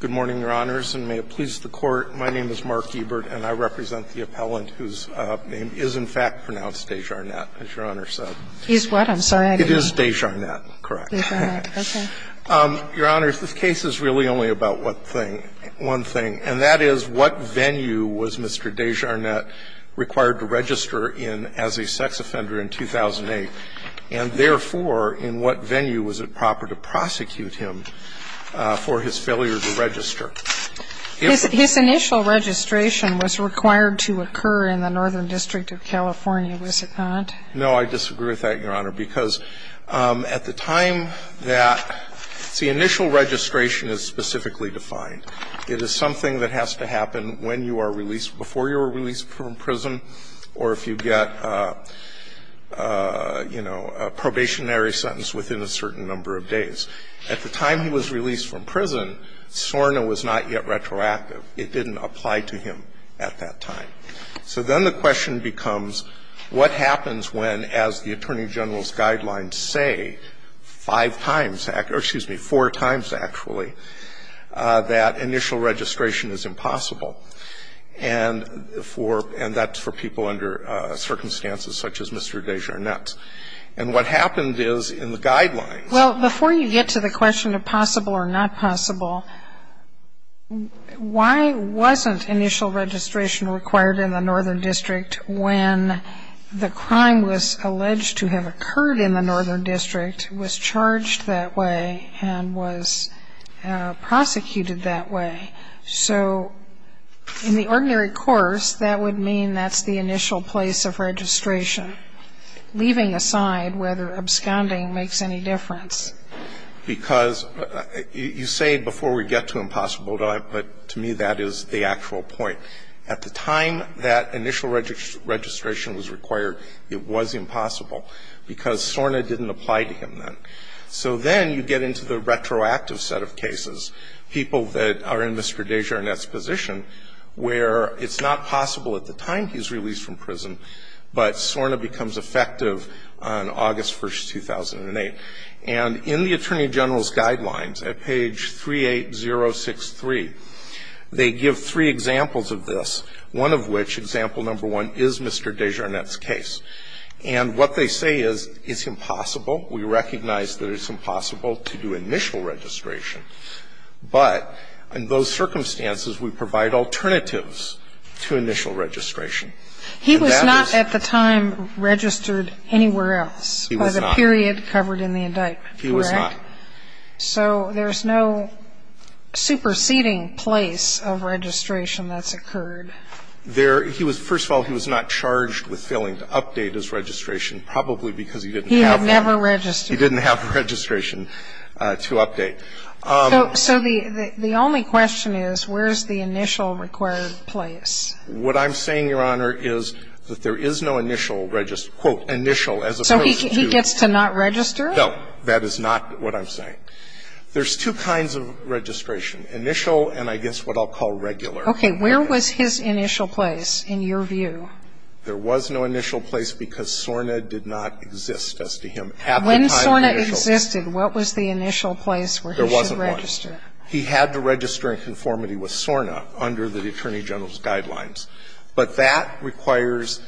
Good morning, Your Honors, and may it please the Court, my name is Mark Ebert, and I represent the appellant whose name is, in fact, pronounced DeJarnette, as Your Honor said. He's what, I'm sorry? It is DeJarnette, correct. DeJarnette, okay. Your Honors, this case is really only about one thing, and that is what venue was Mr. DeJarnette required to register in as a sex offender in 2008, and therefore, in what venue was it proper to prosecute him for his failure to register? His initial registration was required to occur in the Northern District of California, was it not? No, I disagree with that, Your Honor, because at the time that the initial registration is specifically defined. It is something that has to happen when you are released, before you are released from prison, or if you get, you know, a probationary sentence within a certain number of days. At the time he was released from prison, SORNA was not yet retroactive. It didn't apply to him at that time. So then the question becomes, what happens when, as the Attorney General's guidelines say, five times, or excuse me, four times, actually, that initial registration is impossible? And for, and that's for people under circumstances such as Mr. DeJarnette. And what happened is, in the guidelines. Well, before you get to the question of possible or not possible, why wasn't initial registration required in the Northern District when the crime was alleged to have occurred in the Northern District, was charged that way, and was prosecuted that way? So in the ordinary course, that would mean that's the initial place of registration. But leaving aside whether absconding makes any difference. Because you say before we get to impossible, but to me that is the actual point. At the time that initial registration was required, it was impossible, because SORNA didn't apply to him then. So then you get into the retroactive set of cases, people that are in Mr. DeJarnette's position, where it's not possible at the time he's released from prison, but SORNA becomes effective on August 1st, 2008. And in the Attorney General's guidelines, at page 38063, they give three examples of this, one of which, example number one, is Mr. DeJarnette's case. And what they say is, it's impossible. We recognize that it's impossible to do initial registration. But in those circumstances, we provide alternatives to initial registration. And that is the point. He was not at the time registered anywhere else. He was not. By the period covered in the indictment, correct? He was not. So there's no superseding place of registration that's occurred. There he was – first of all, he was not charged with failing to update his registration, probably because he didn't have one. He had never registered. He didn't have a registration to update. So the only question is, where is the initial required place? What I'm saying, Your Honor, is that there is no initial, quote, initial, as opposed to to. So he gets to not register? No. That is not what I'm saying. There's two kinds of registration, initial and I guess what I'll call regular. Okay. Where was his initial place in your view? There was no initial place because SORNA did not exist as to him at the time initial. If SORNA existed, what was the initial place where he should register? There wasn't one. He had to register in conformity with SORNA under the Attorney General's guidelines. But that requires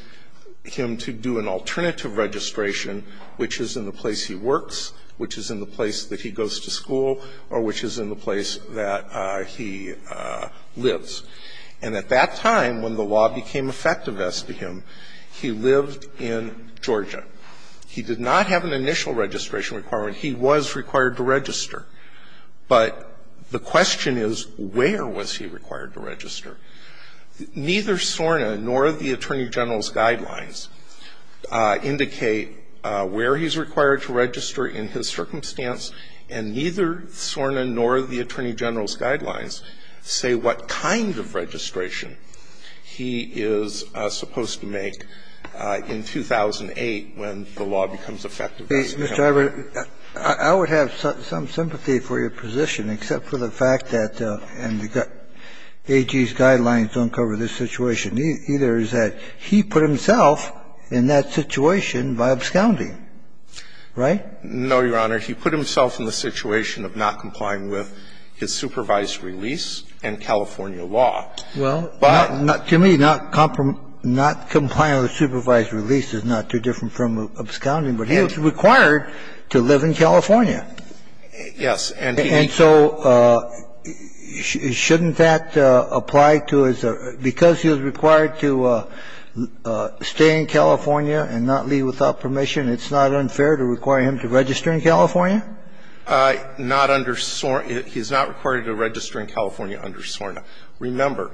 him to do an alternative registration, which is in the place he works, which is in the place that he goes to school, or which is in the place that he lives. And at that time, when the law became effective as to him, he lived in Georgia. He did not have an initial registration requirement. He was required to register. But the question is, where was he required to register? Neither SORNA nor the Attorney General's guidelines indicate where he's required to register in his circumstance, and neither SORNA nor the Attorney General's And the answer is, when the law becomes effective as to him. Mr. Iver, I would have some sympathy for your position, except for the fact that AG's guidelines don't cover this situation. Either is that he put himself in that situation by absconding. Right? No, Your Honor. He put himself in the situation of not complying with his supervised release and California law. Well, to me, not complying with supervised release is not too different from absconding. But he was required to live in California. Yes. And so shouldn't that apply to his or his other? Because he was required to stay in California and not leave without permission, and it's not unfair to require him to register in California? Not under SORNA. He's not required to register in California under SORNA. Remember,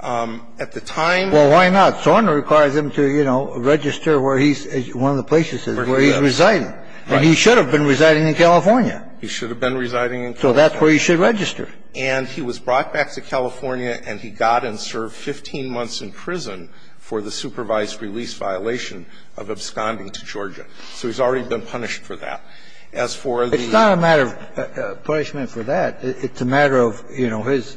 at the time. Well, why not? SORNA requires him to, you know, register where he's one of the places where he's residing. And he should have been residing in California. He should have been residing in California. So that's where he should register. And he was brought back to California and he got and served 15 months in prison for the supervised release violation of absconding to Georgia. So he's already been punished for that. As for the other. It's not a matter of punishment for that. It's a matter of, you know, his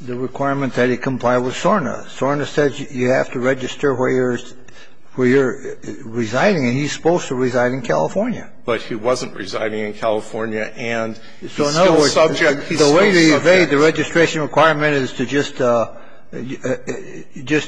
the requirement that he comply with SORNA. SORNA says you have to register where you're residing, and he's supposed to reside in California. But he wasn't residing in California, and he's still subject. The way to evade the registration requirement is to just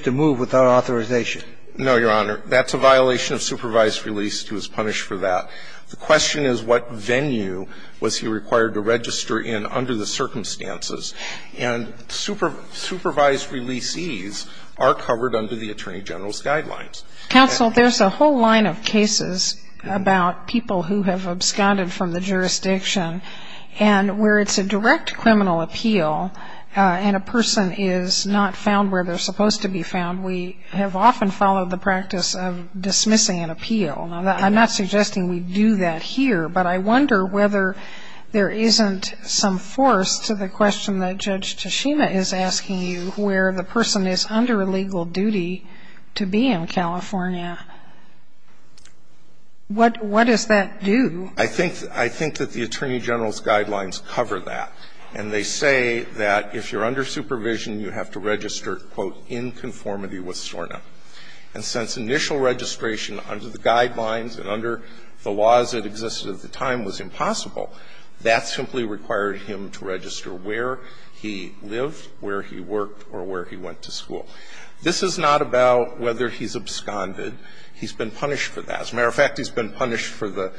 to move without authorization. No, Your Honor. That's a violation of supervised release. He was punished for that. The question is what venue was he required to register in under the circumstances. And supervised releasees are covered under the Attorney General's guidelines. Counsel, there's a whole line of cases about people who have absconded from the jurisdiction and where it's a direct criminal appeal and a person is not found where they're supposed to be found. We have often followed the practice of dismissing an appeal. Now, I'm not suggesting we do that here, but I wonder whether there isn't some force to the question that Judge Tashima is asking you where the person is under a legal duty to be in California. What does that do? I think that the Attorney General's guidelines cover that, and they say that if you're under supervision, you have to register, quote, in conformity with SORNA. And since initial registration under the guidelines and under the laws that existed at the time was impossible, that simply required him to register where he lived, where he worked, or where he went to school. This is not about whether he's absconded. He's been punished for that. As a matter of fact, he's been punished for the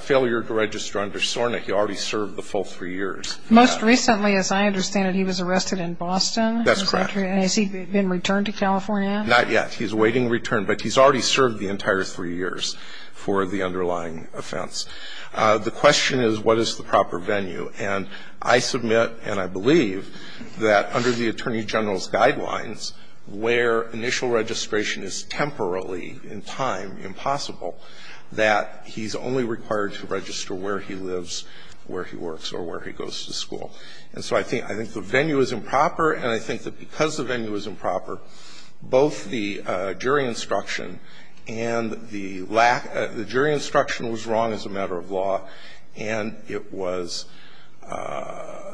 failure to register under SORNA. He already served the full three years. Most recently, as I understand it, he was arrested in Boston. That's correct. Has he been returned to California? Not yet. He's awaiting return. But he's already served the entire three years for the underlying offense. The question is, what is the proper venue? And I submit and I believe that under the Attorney General's guidelines, where initial registration is temporarily, in time, impossible, that he's only required to register where he lives, where he works, or where he goes to school. And so I think the venue is improper, and I think that because the venue is improper, both the jury instruction and the lack of the jury instruction was wrong as a matter of law, and it was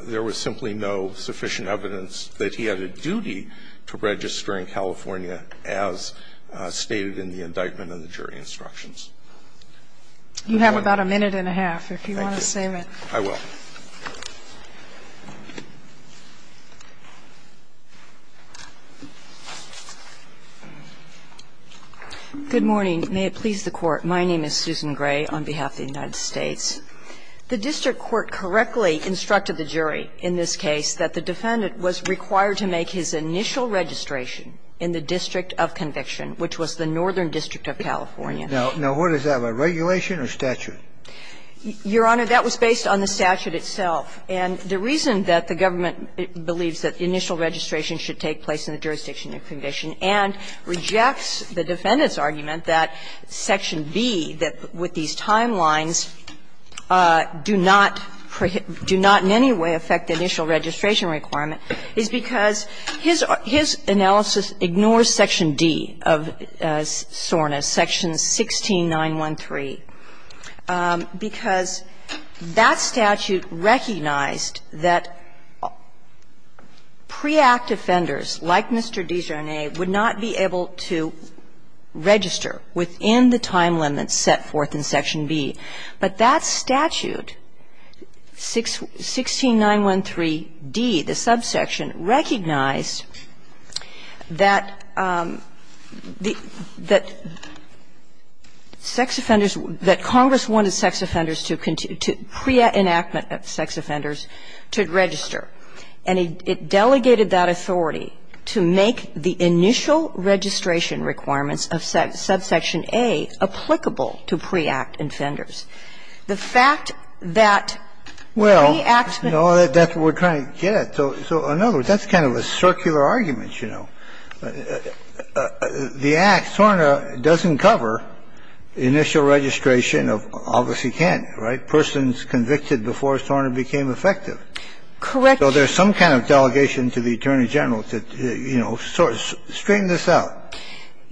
there was simply no sufficient evidence that he had a duty to register in California as stated in the indictment and the jury instructions. You have about a minute and a half if you want to save it. Thank you. I will. Good morning. May it please the Court. My name is Susan Gray on behalf of the United States. The district court correctly instructed the jury in this case that the defendant was required to make his initial registration in the district of conviction, which was the Northern District of California. Now, what is that? A regulation or statute? Your Honor, that was based on the statute itself. And the reason that the government believes that the initial registration should take place in the jurisdiction of conviction and rejects the defendant's argument that section B, that with these timelines, do not in any way affect the initial registration requirement is because his analysis ignores section D of SORNA, section 16913, because that statute recognized that pre-act offenders like Mr. DiGiorni would not be able to register within the time limit set forth in section B. But that statute, 16913d, the subsection, recognized that the sex offenders that Congress wanted sex offenders to pre-enactment of sex offenders to register. And it delegated that authority to make the initial registration requirements of subsection A applicable to pre-act offenders. The fact that pre-actment of sex offenders. Well, you know, that's what we're trying to get at. So in other words, that's kind of a circular argument, you know. The act, SORNA, doesn't cover initial registration of obviously candidate, right, persons convicted before SORNA became effective. Correct. So there's some kind of delegation to the Attorney General to, you know, straighten this out,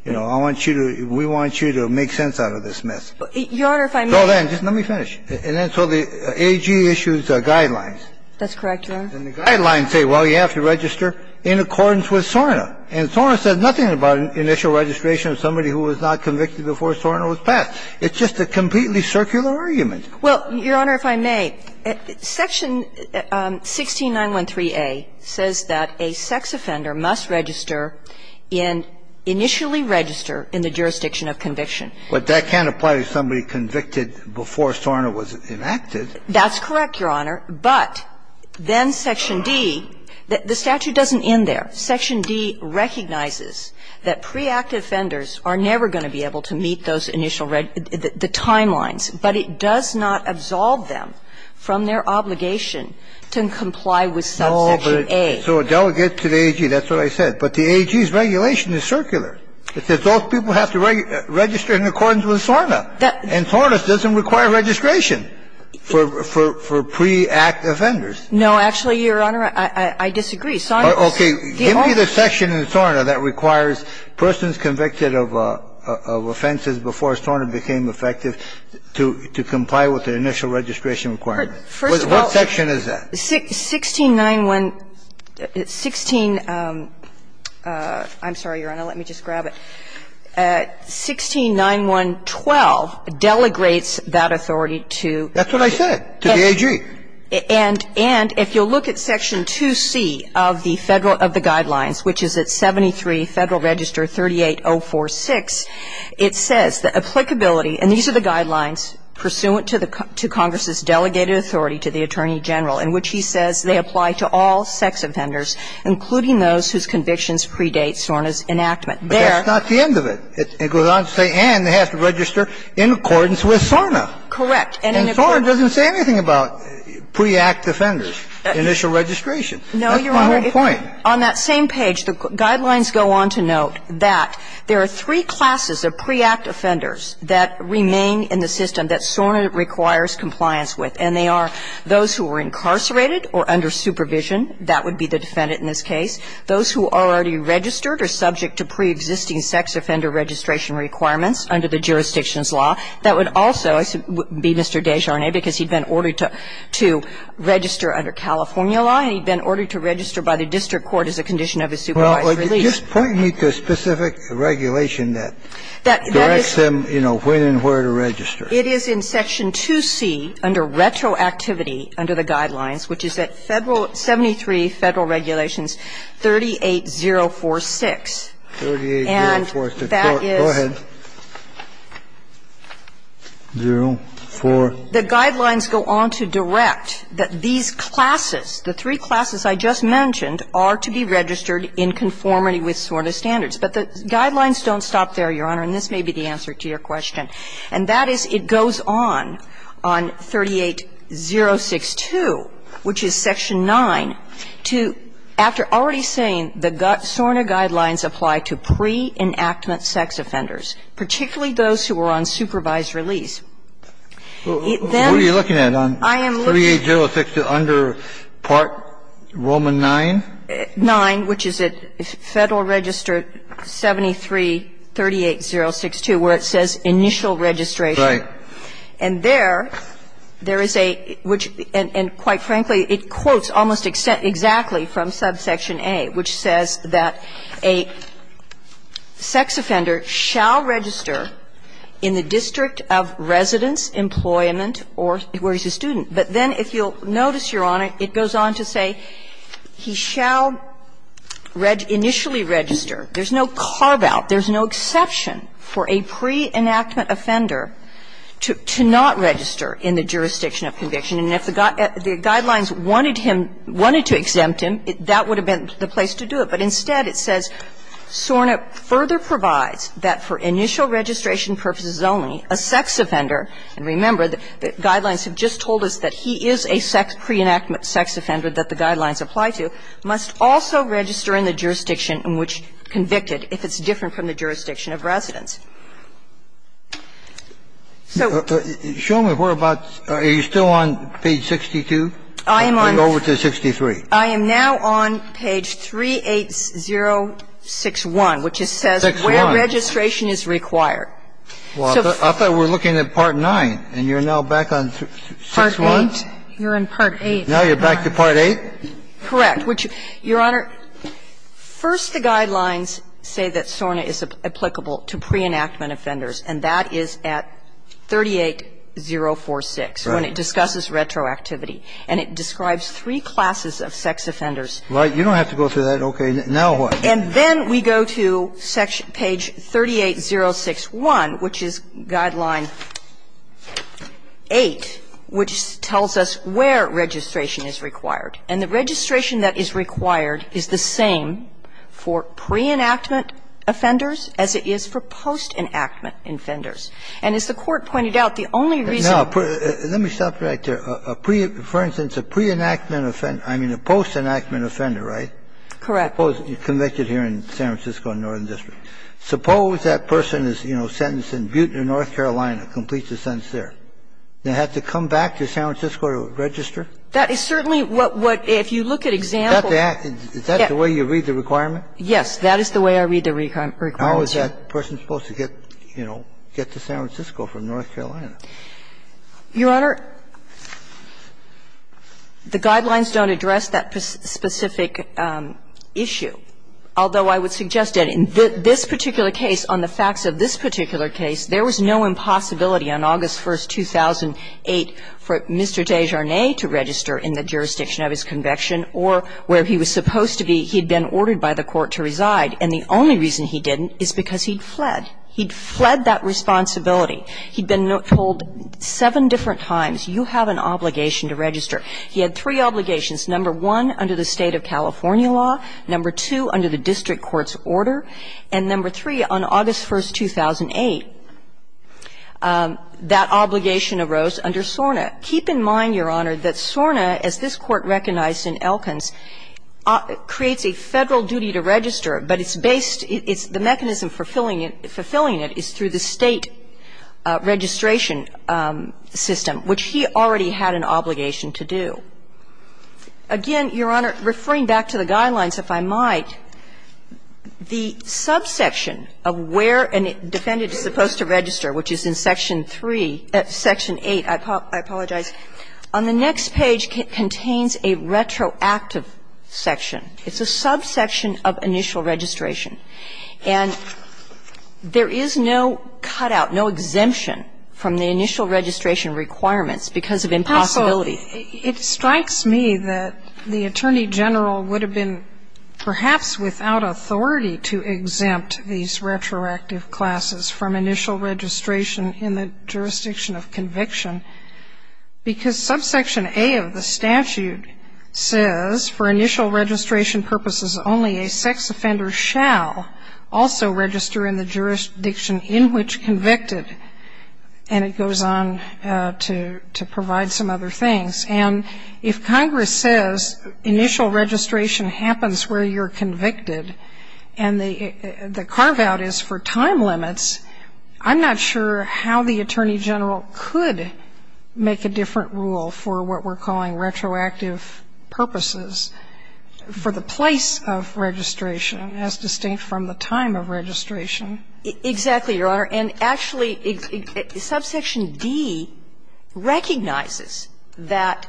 you know, I want you to, we want you to make sense out of this mess. Your Honor, if I may. So then, just let me finish. And then so the AG issues guidelines. That's correct, Your Honor. And the guidelines say, well, you have to register in accordance with SORNA. And SORNA says nothing about initial registration of somebody who was not convicted before SORNA was passed. It's just a completely circular argument. Well, Your Honor, if I may, section 16913a says that a sex offender must register in initially register in the jurisdiction of conviction. But that can't apply to somebody convicted before SORNA was enacted. That's correct, Your Honor. But then section D, the statute doesn't end there. Section D recognizes that preactive offenders are never going to be able to meet those initial, the timelines. But it does not absolve them from their obligation to comply with section A. So a delegate to the AG, that's what I said. But the AG's regulation is circular. It says those people have to register in accordance with SORNA. And SORNA doesn't require registration for preactive offenders. No, actually, Your Honor, I disagree. SORNA does. Okay. Give me the section in SORNA that requires persons convicted of offenses before SORNA became effective to comply with the initial registration requirement. First of all. What section is that? 1691 16 — I'm sorry, Your Honor. Let me just grab it. 169112 delegates that authority to the AG. That's what I said, to the AG. And if you'll look at section 2C of the Federal — of the Guidelines, which is at 73 Federal Register 38046, it says that applicability — and these are the Guidelines pursuant to the — to Congress's delegated authority to the Attorney General, in which he says they apply to all sex offenders, including those whose convictions predate SORNA's enactment. There — But that's not the end of it. It goes on to say, and they have to register in accordance with SORNA. Correct. And SORNA doesn't say anything about preactive offenders, initial registration. No, Your Honor. That's my whole point. On that same page, the Guidelines go on to note that there are three classes of preactive offenders that remain in the system that SORNA requires compliance with, and they are those who are incarcerated or under supervision. That would be the defendant in this case. Those who are already registered or subject to preexisting sex offender registration requirements under the jurisdiction's law. That would also be Mr. Desjardins, because he'd been ordered to register under California law, and he'd been ordered to register by the district court as a condition of his supervised release. Just point me to a specific regulation that directs them, you know, when and where to register. It is in Section 2C, under retroactivity, under the Guidelines, which is at Federal — 73 Federal Regulations 38046. 38046. Go ahead. 0, 4. The Guidelines go on to direct that these classes, the three classes I just mentioned, are to be registered in conformity with SORNA standards. But the Guidelines don't stop there, Your Honor, and this may be the answer to your question. And that is, it goes on, on 38062, which is Section 9, to, after already saying the SORNA Guidelines apply to pre-enactment sex offenders, particularly those who are on supervised release. It then — What are you looking at, on 38062 under Part Roman 9? 9, which is at Federal Register 73-38062, where it says initial registration. Right. And there, there is a — which, and quite frankly, it quotes almost exactly from subsection A, which says that a sex offender shall register in the district of residence, employment, or where he's a student. But then, if you'll notice, Your Honor, it goes on to say he shall initially register. There's no carve-out, there's no exception for a pre-enactment offender to not register in the jurisdiction of conviction. And if the Guidelines wanted him — wanted to exempt him, that would have been the place to do it. But instead, it says SORNA further provides that for initial registration purposes only, a sex offender — and remember, the Guidelines have just told us that he is a sex — pre-enactment sex offender that the Guidelines apply to — must also register in the jurisdiction in which convicted, if it's different from the jurisdiction of residence. So — Show me where abouts — are you still on page 62, or are you over to 63? I am on — I am now on page 38061, which says where registration is required. Well, I thought we were looking at part 9, and you're now back on 6-1? Part 8. You're in part 8. Now you're back to part 8? Correct. Which, Your Honor, first the Guidelines say that SORNA is applicable to pre-enactment offenders, and that is at 38046, when it discusses retroactivity. And it describes three classes of sex offenders. Right. You don't have to go through that. Okay. Now what? And then we go to section — page 38061, which is Guideline 8, which tells us where registration is required. And the registration that is required is the same for pre-enactment offenders as it is for post-enactment offenders. And as the Court pointed out, the only reason — Now, let me stop right there. A pre — for instance, a pre-enactment — I mean, a post-enactment offender, right? Correct. Convicted here in San Francisco in the Northern District. Suppose that person is, you know, sentenced in Butte, North Carolina, completes the sentence there. They have to come back to San Francisco to register? That is certainly what — if you look at example — Is that the way you read the requirement? Yes. That is the way I read the requirement. How is that person supposed to get, you know, get to San Francisco from North Carolina? Your Honor, the guidelines don't address that specific issue, although I would suggest that in this particular case, on the facts of this particular case, there was no impossibility on August 1, 2008, for Mr. Desjardins to register in the jurisdiction of his conviction or where he was supposed to be. He had been ordered by the court to reside, and the only reason he didn't is because he'd fled. He'd fled that responsibility. He'd been told seven different times, you have an obligation to register. He had three obligations. Number one, under the State of California law. Number two, under the district court's order. And number three, on August 1, 2008, that obligation arose under SORNA. Keep in mind, Your Honor, that SORNA, as this Court recognized in Elkins, creates a Federal duty to register, but it's based the mechanism fulfilling it is through the State registration system, which he already had an obligation to do. Again, Your Honor, referring back to the guidelines, if I might, the subsection of where a defendant is supposed to register, which is in Section 3, Section 8, I apologize, on the next page contains a retroactive section. It's a subsection of initial registration. And there is no cutout, no exemption from the initial registration requirements because of impossibility. Sotomayor, it strikes me that the Attorney General would have been perhaps without authority to exempt these retroactive classes from initial registration in the jurisdiction of conviction. Because subsection A of the statute says, for initial registration purposes, only a sex offender shall also register in the jurisdiction in which convicted. And it goes on to provide some other things. And if Congress says initial registration happens where you're convicted and the carve-out is for time limits, I'm not sure how the Attorney General could make a different rule for what we're calling retroactive purposes for the place of registration as distinct from the time of registration. Exactly, Your Honor. And actually, subsection D recognizes that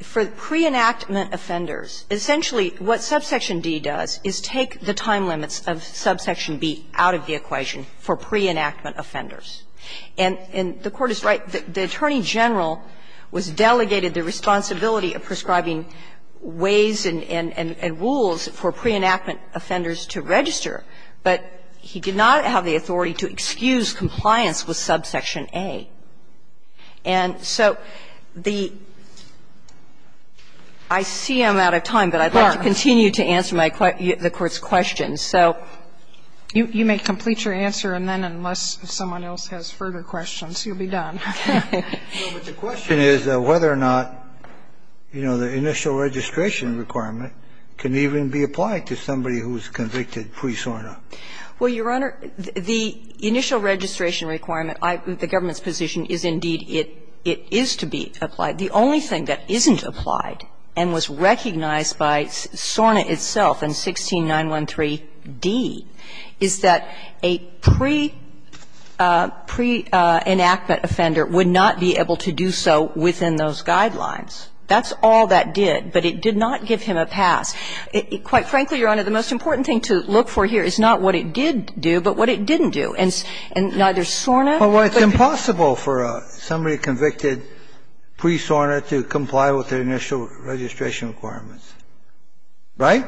for pre-enactment offenders, essentially what subsection D does is take the time limits of subsection B out of the equation for pre-enactment offenders. And the Court is right. The Attorney General was delegated the responsibility of prescribing ways and rules for pre-enactment offenders to register, but he did not have the authority to excuse compliance with subsection A. And so the – I see I'm out of time, but I'd like to continue to answer my – the Court's questions. So you may complete your answer, and then unless someone else has further questions, you'll be done. Well, but the question is whether or not, you know, the initial registration requirement can even be applied to somebody who is convicted pre-SORNA. Well, Your Honor, the initial registration requirement, the government's position is, indeed, it is to be applied. The only thing that isn't applied and was recognized by SORNA itself in 16913d is that a pre-enactment offender would not be able to do so within those guidelines. That's all that did, but it did not give him a pass. Quite frankly, Your Honor, the most important thing to look for here is not what it did do, but what it didn't do. And neither SORNA or what it did do. So it's impossible for somebody convicted pre-SORNA to comply with their initial registration requirements, right?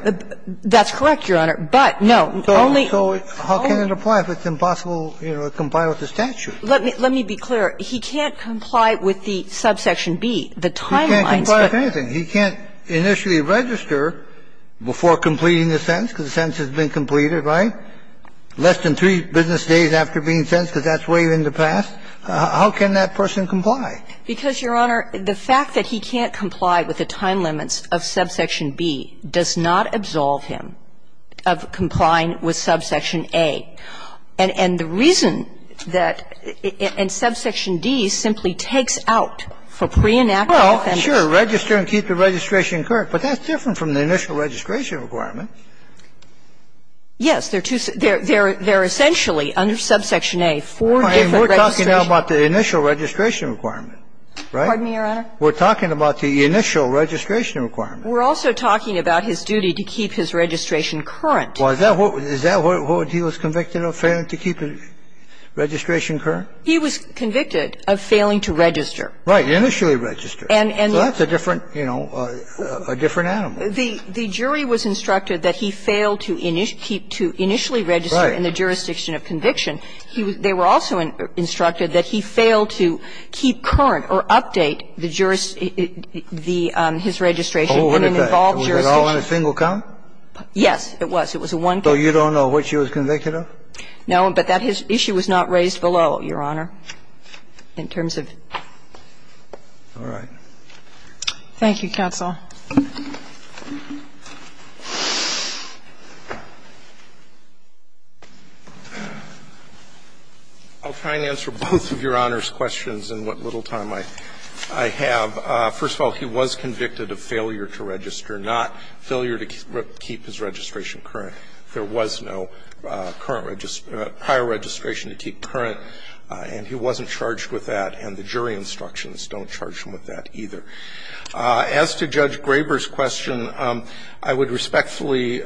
That's correct, Your Honor, but, no, only – So how can it apply if it's impossible, you know, to comply with the statute? Let me be clear. He can't comply with the subsection B, the timelines, but – He can't comply with anything. He can't initially register before completing the sentence, because the sentence has been completed, right? Less than three business days after being sentenced, because that's way in the past. How can that person comply? Because, Your Honor, the fact that he can't comply with the time limits of subsection B does not absolve him of complying with subsection A. And the reason that – and subsection D simply takes out for pre-enactment offenders – Well, sure, register and keep the registration correct, but that's different from the initial registration requirement. Yes, they're two – they're essentially, under subsection A, four different registration – We're talking now about the initial registration requirement, right? Pardon me, Your Honor? We're talking about the initial registration requirement. We're also talking about his duty to keep his registration current. Well, is that what he was convicted of, failing to keep the registration current? He was convicted of failing to register. Right. Initially register. And the – So that's a different, you know, a different animal. The jury was instructed that he fail to initially register in the jurisdiction of conviction. They were also instructed that he fail to keep current or update the jurisdiction – the – his registration in an involved jurisdiction. Was it all in a single count? Yes, it was. So you don't know what she was convicted of? No, but that issue was not raised below, Your Honor, in terms of – All right. Thank you, counsel. I'll try and answer both of Your Honor's questions in what little time I have. First of all, he was convicted of failure to register, not failure to keep his registration current. There was no current – prior registration to keep current, and he wasn't charged with that, and the jury instructions don't charge him with that either. As to Judge Graber's question, I would respectfully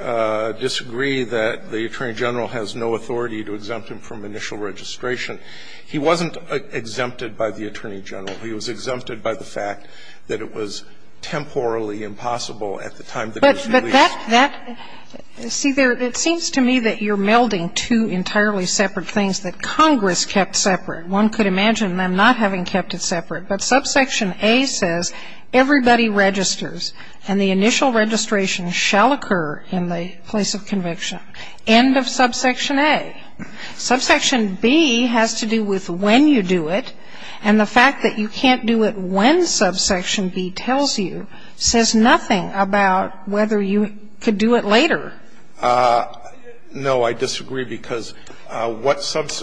disagree that the Attorney General has no authority to exempt him from initial registration. He wasn't exempted by the Attorney General. He was exempted by the fact that it was temporally impossible at the time that he was released. But that – see, there – it seems to me that you're melding two entirely separate things that Congress kept separate. One could imagine them not having kept it separate. But subsection A says everybody registers and the initial registration shall occur in the place of conviction. End of subsection A. Subsection B has to do with when you do it, and the fact that you can't do it when subsection B tells you says nothing about whether you could do it later. No, I disagree, because what sub –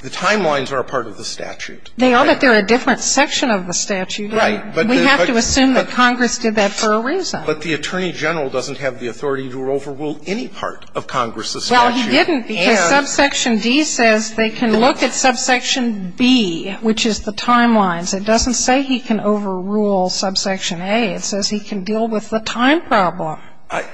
the timelines are a part of the statute. They are, but they're a different section of the statute. Right. We have to assume that Congress did that for a reason. But the Attorney General doesn't have the authority to overrule any part of Congress's statute. Well, he didn't because subsection D says they can look at subsection B, which is the timelines. It doesn't say he can overrule subsection A. It says he can deal with the time problem. I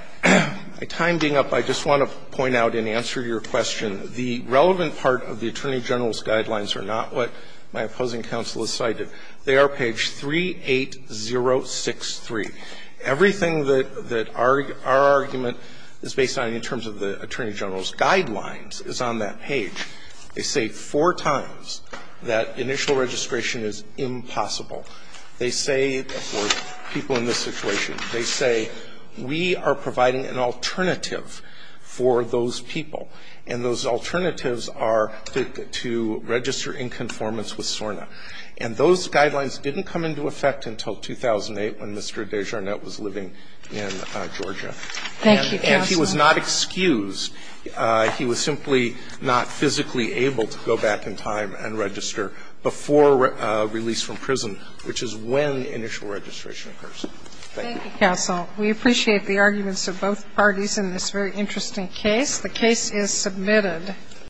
timed it up. I just want to point out in answer to your question, the relevant part of the Attorney General's guidelines are not what my opposing counsel has cited. They are page 38063. Everything that our argument is based on in terms of the Attorney General's guidelines is on that page. They say four times that initial registration is impossible. They say for people in this situation, they say we are providing an alternative for those people, and those alternatives are to register in conformance with SORNA. And those guidelines didn't come into effect until 2008 when Mr. Desjardins was living in Georgia. Thank you, counsel. And he was not excused. He was simply not physically able to go back in time and register before release from prison, which is when initial registration occurs. Thank you. Thank you, counsel. We appreciate the arguments of both parties in this very interesting case. The case is submitted.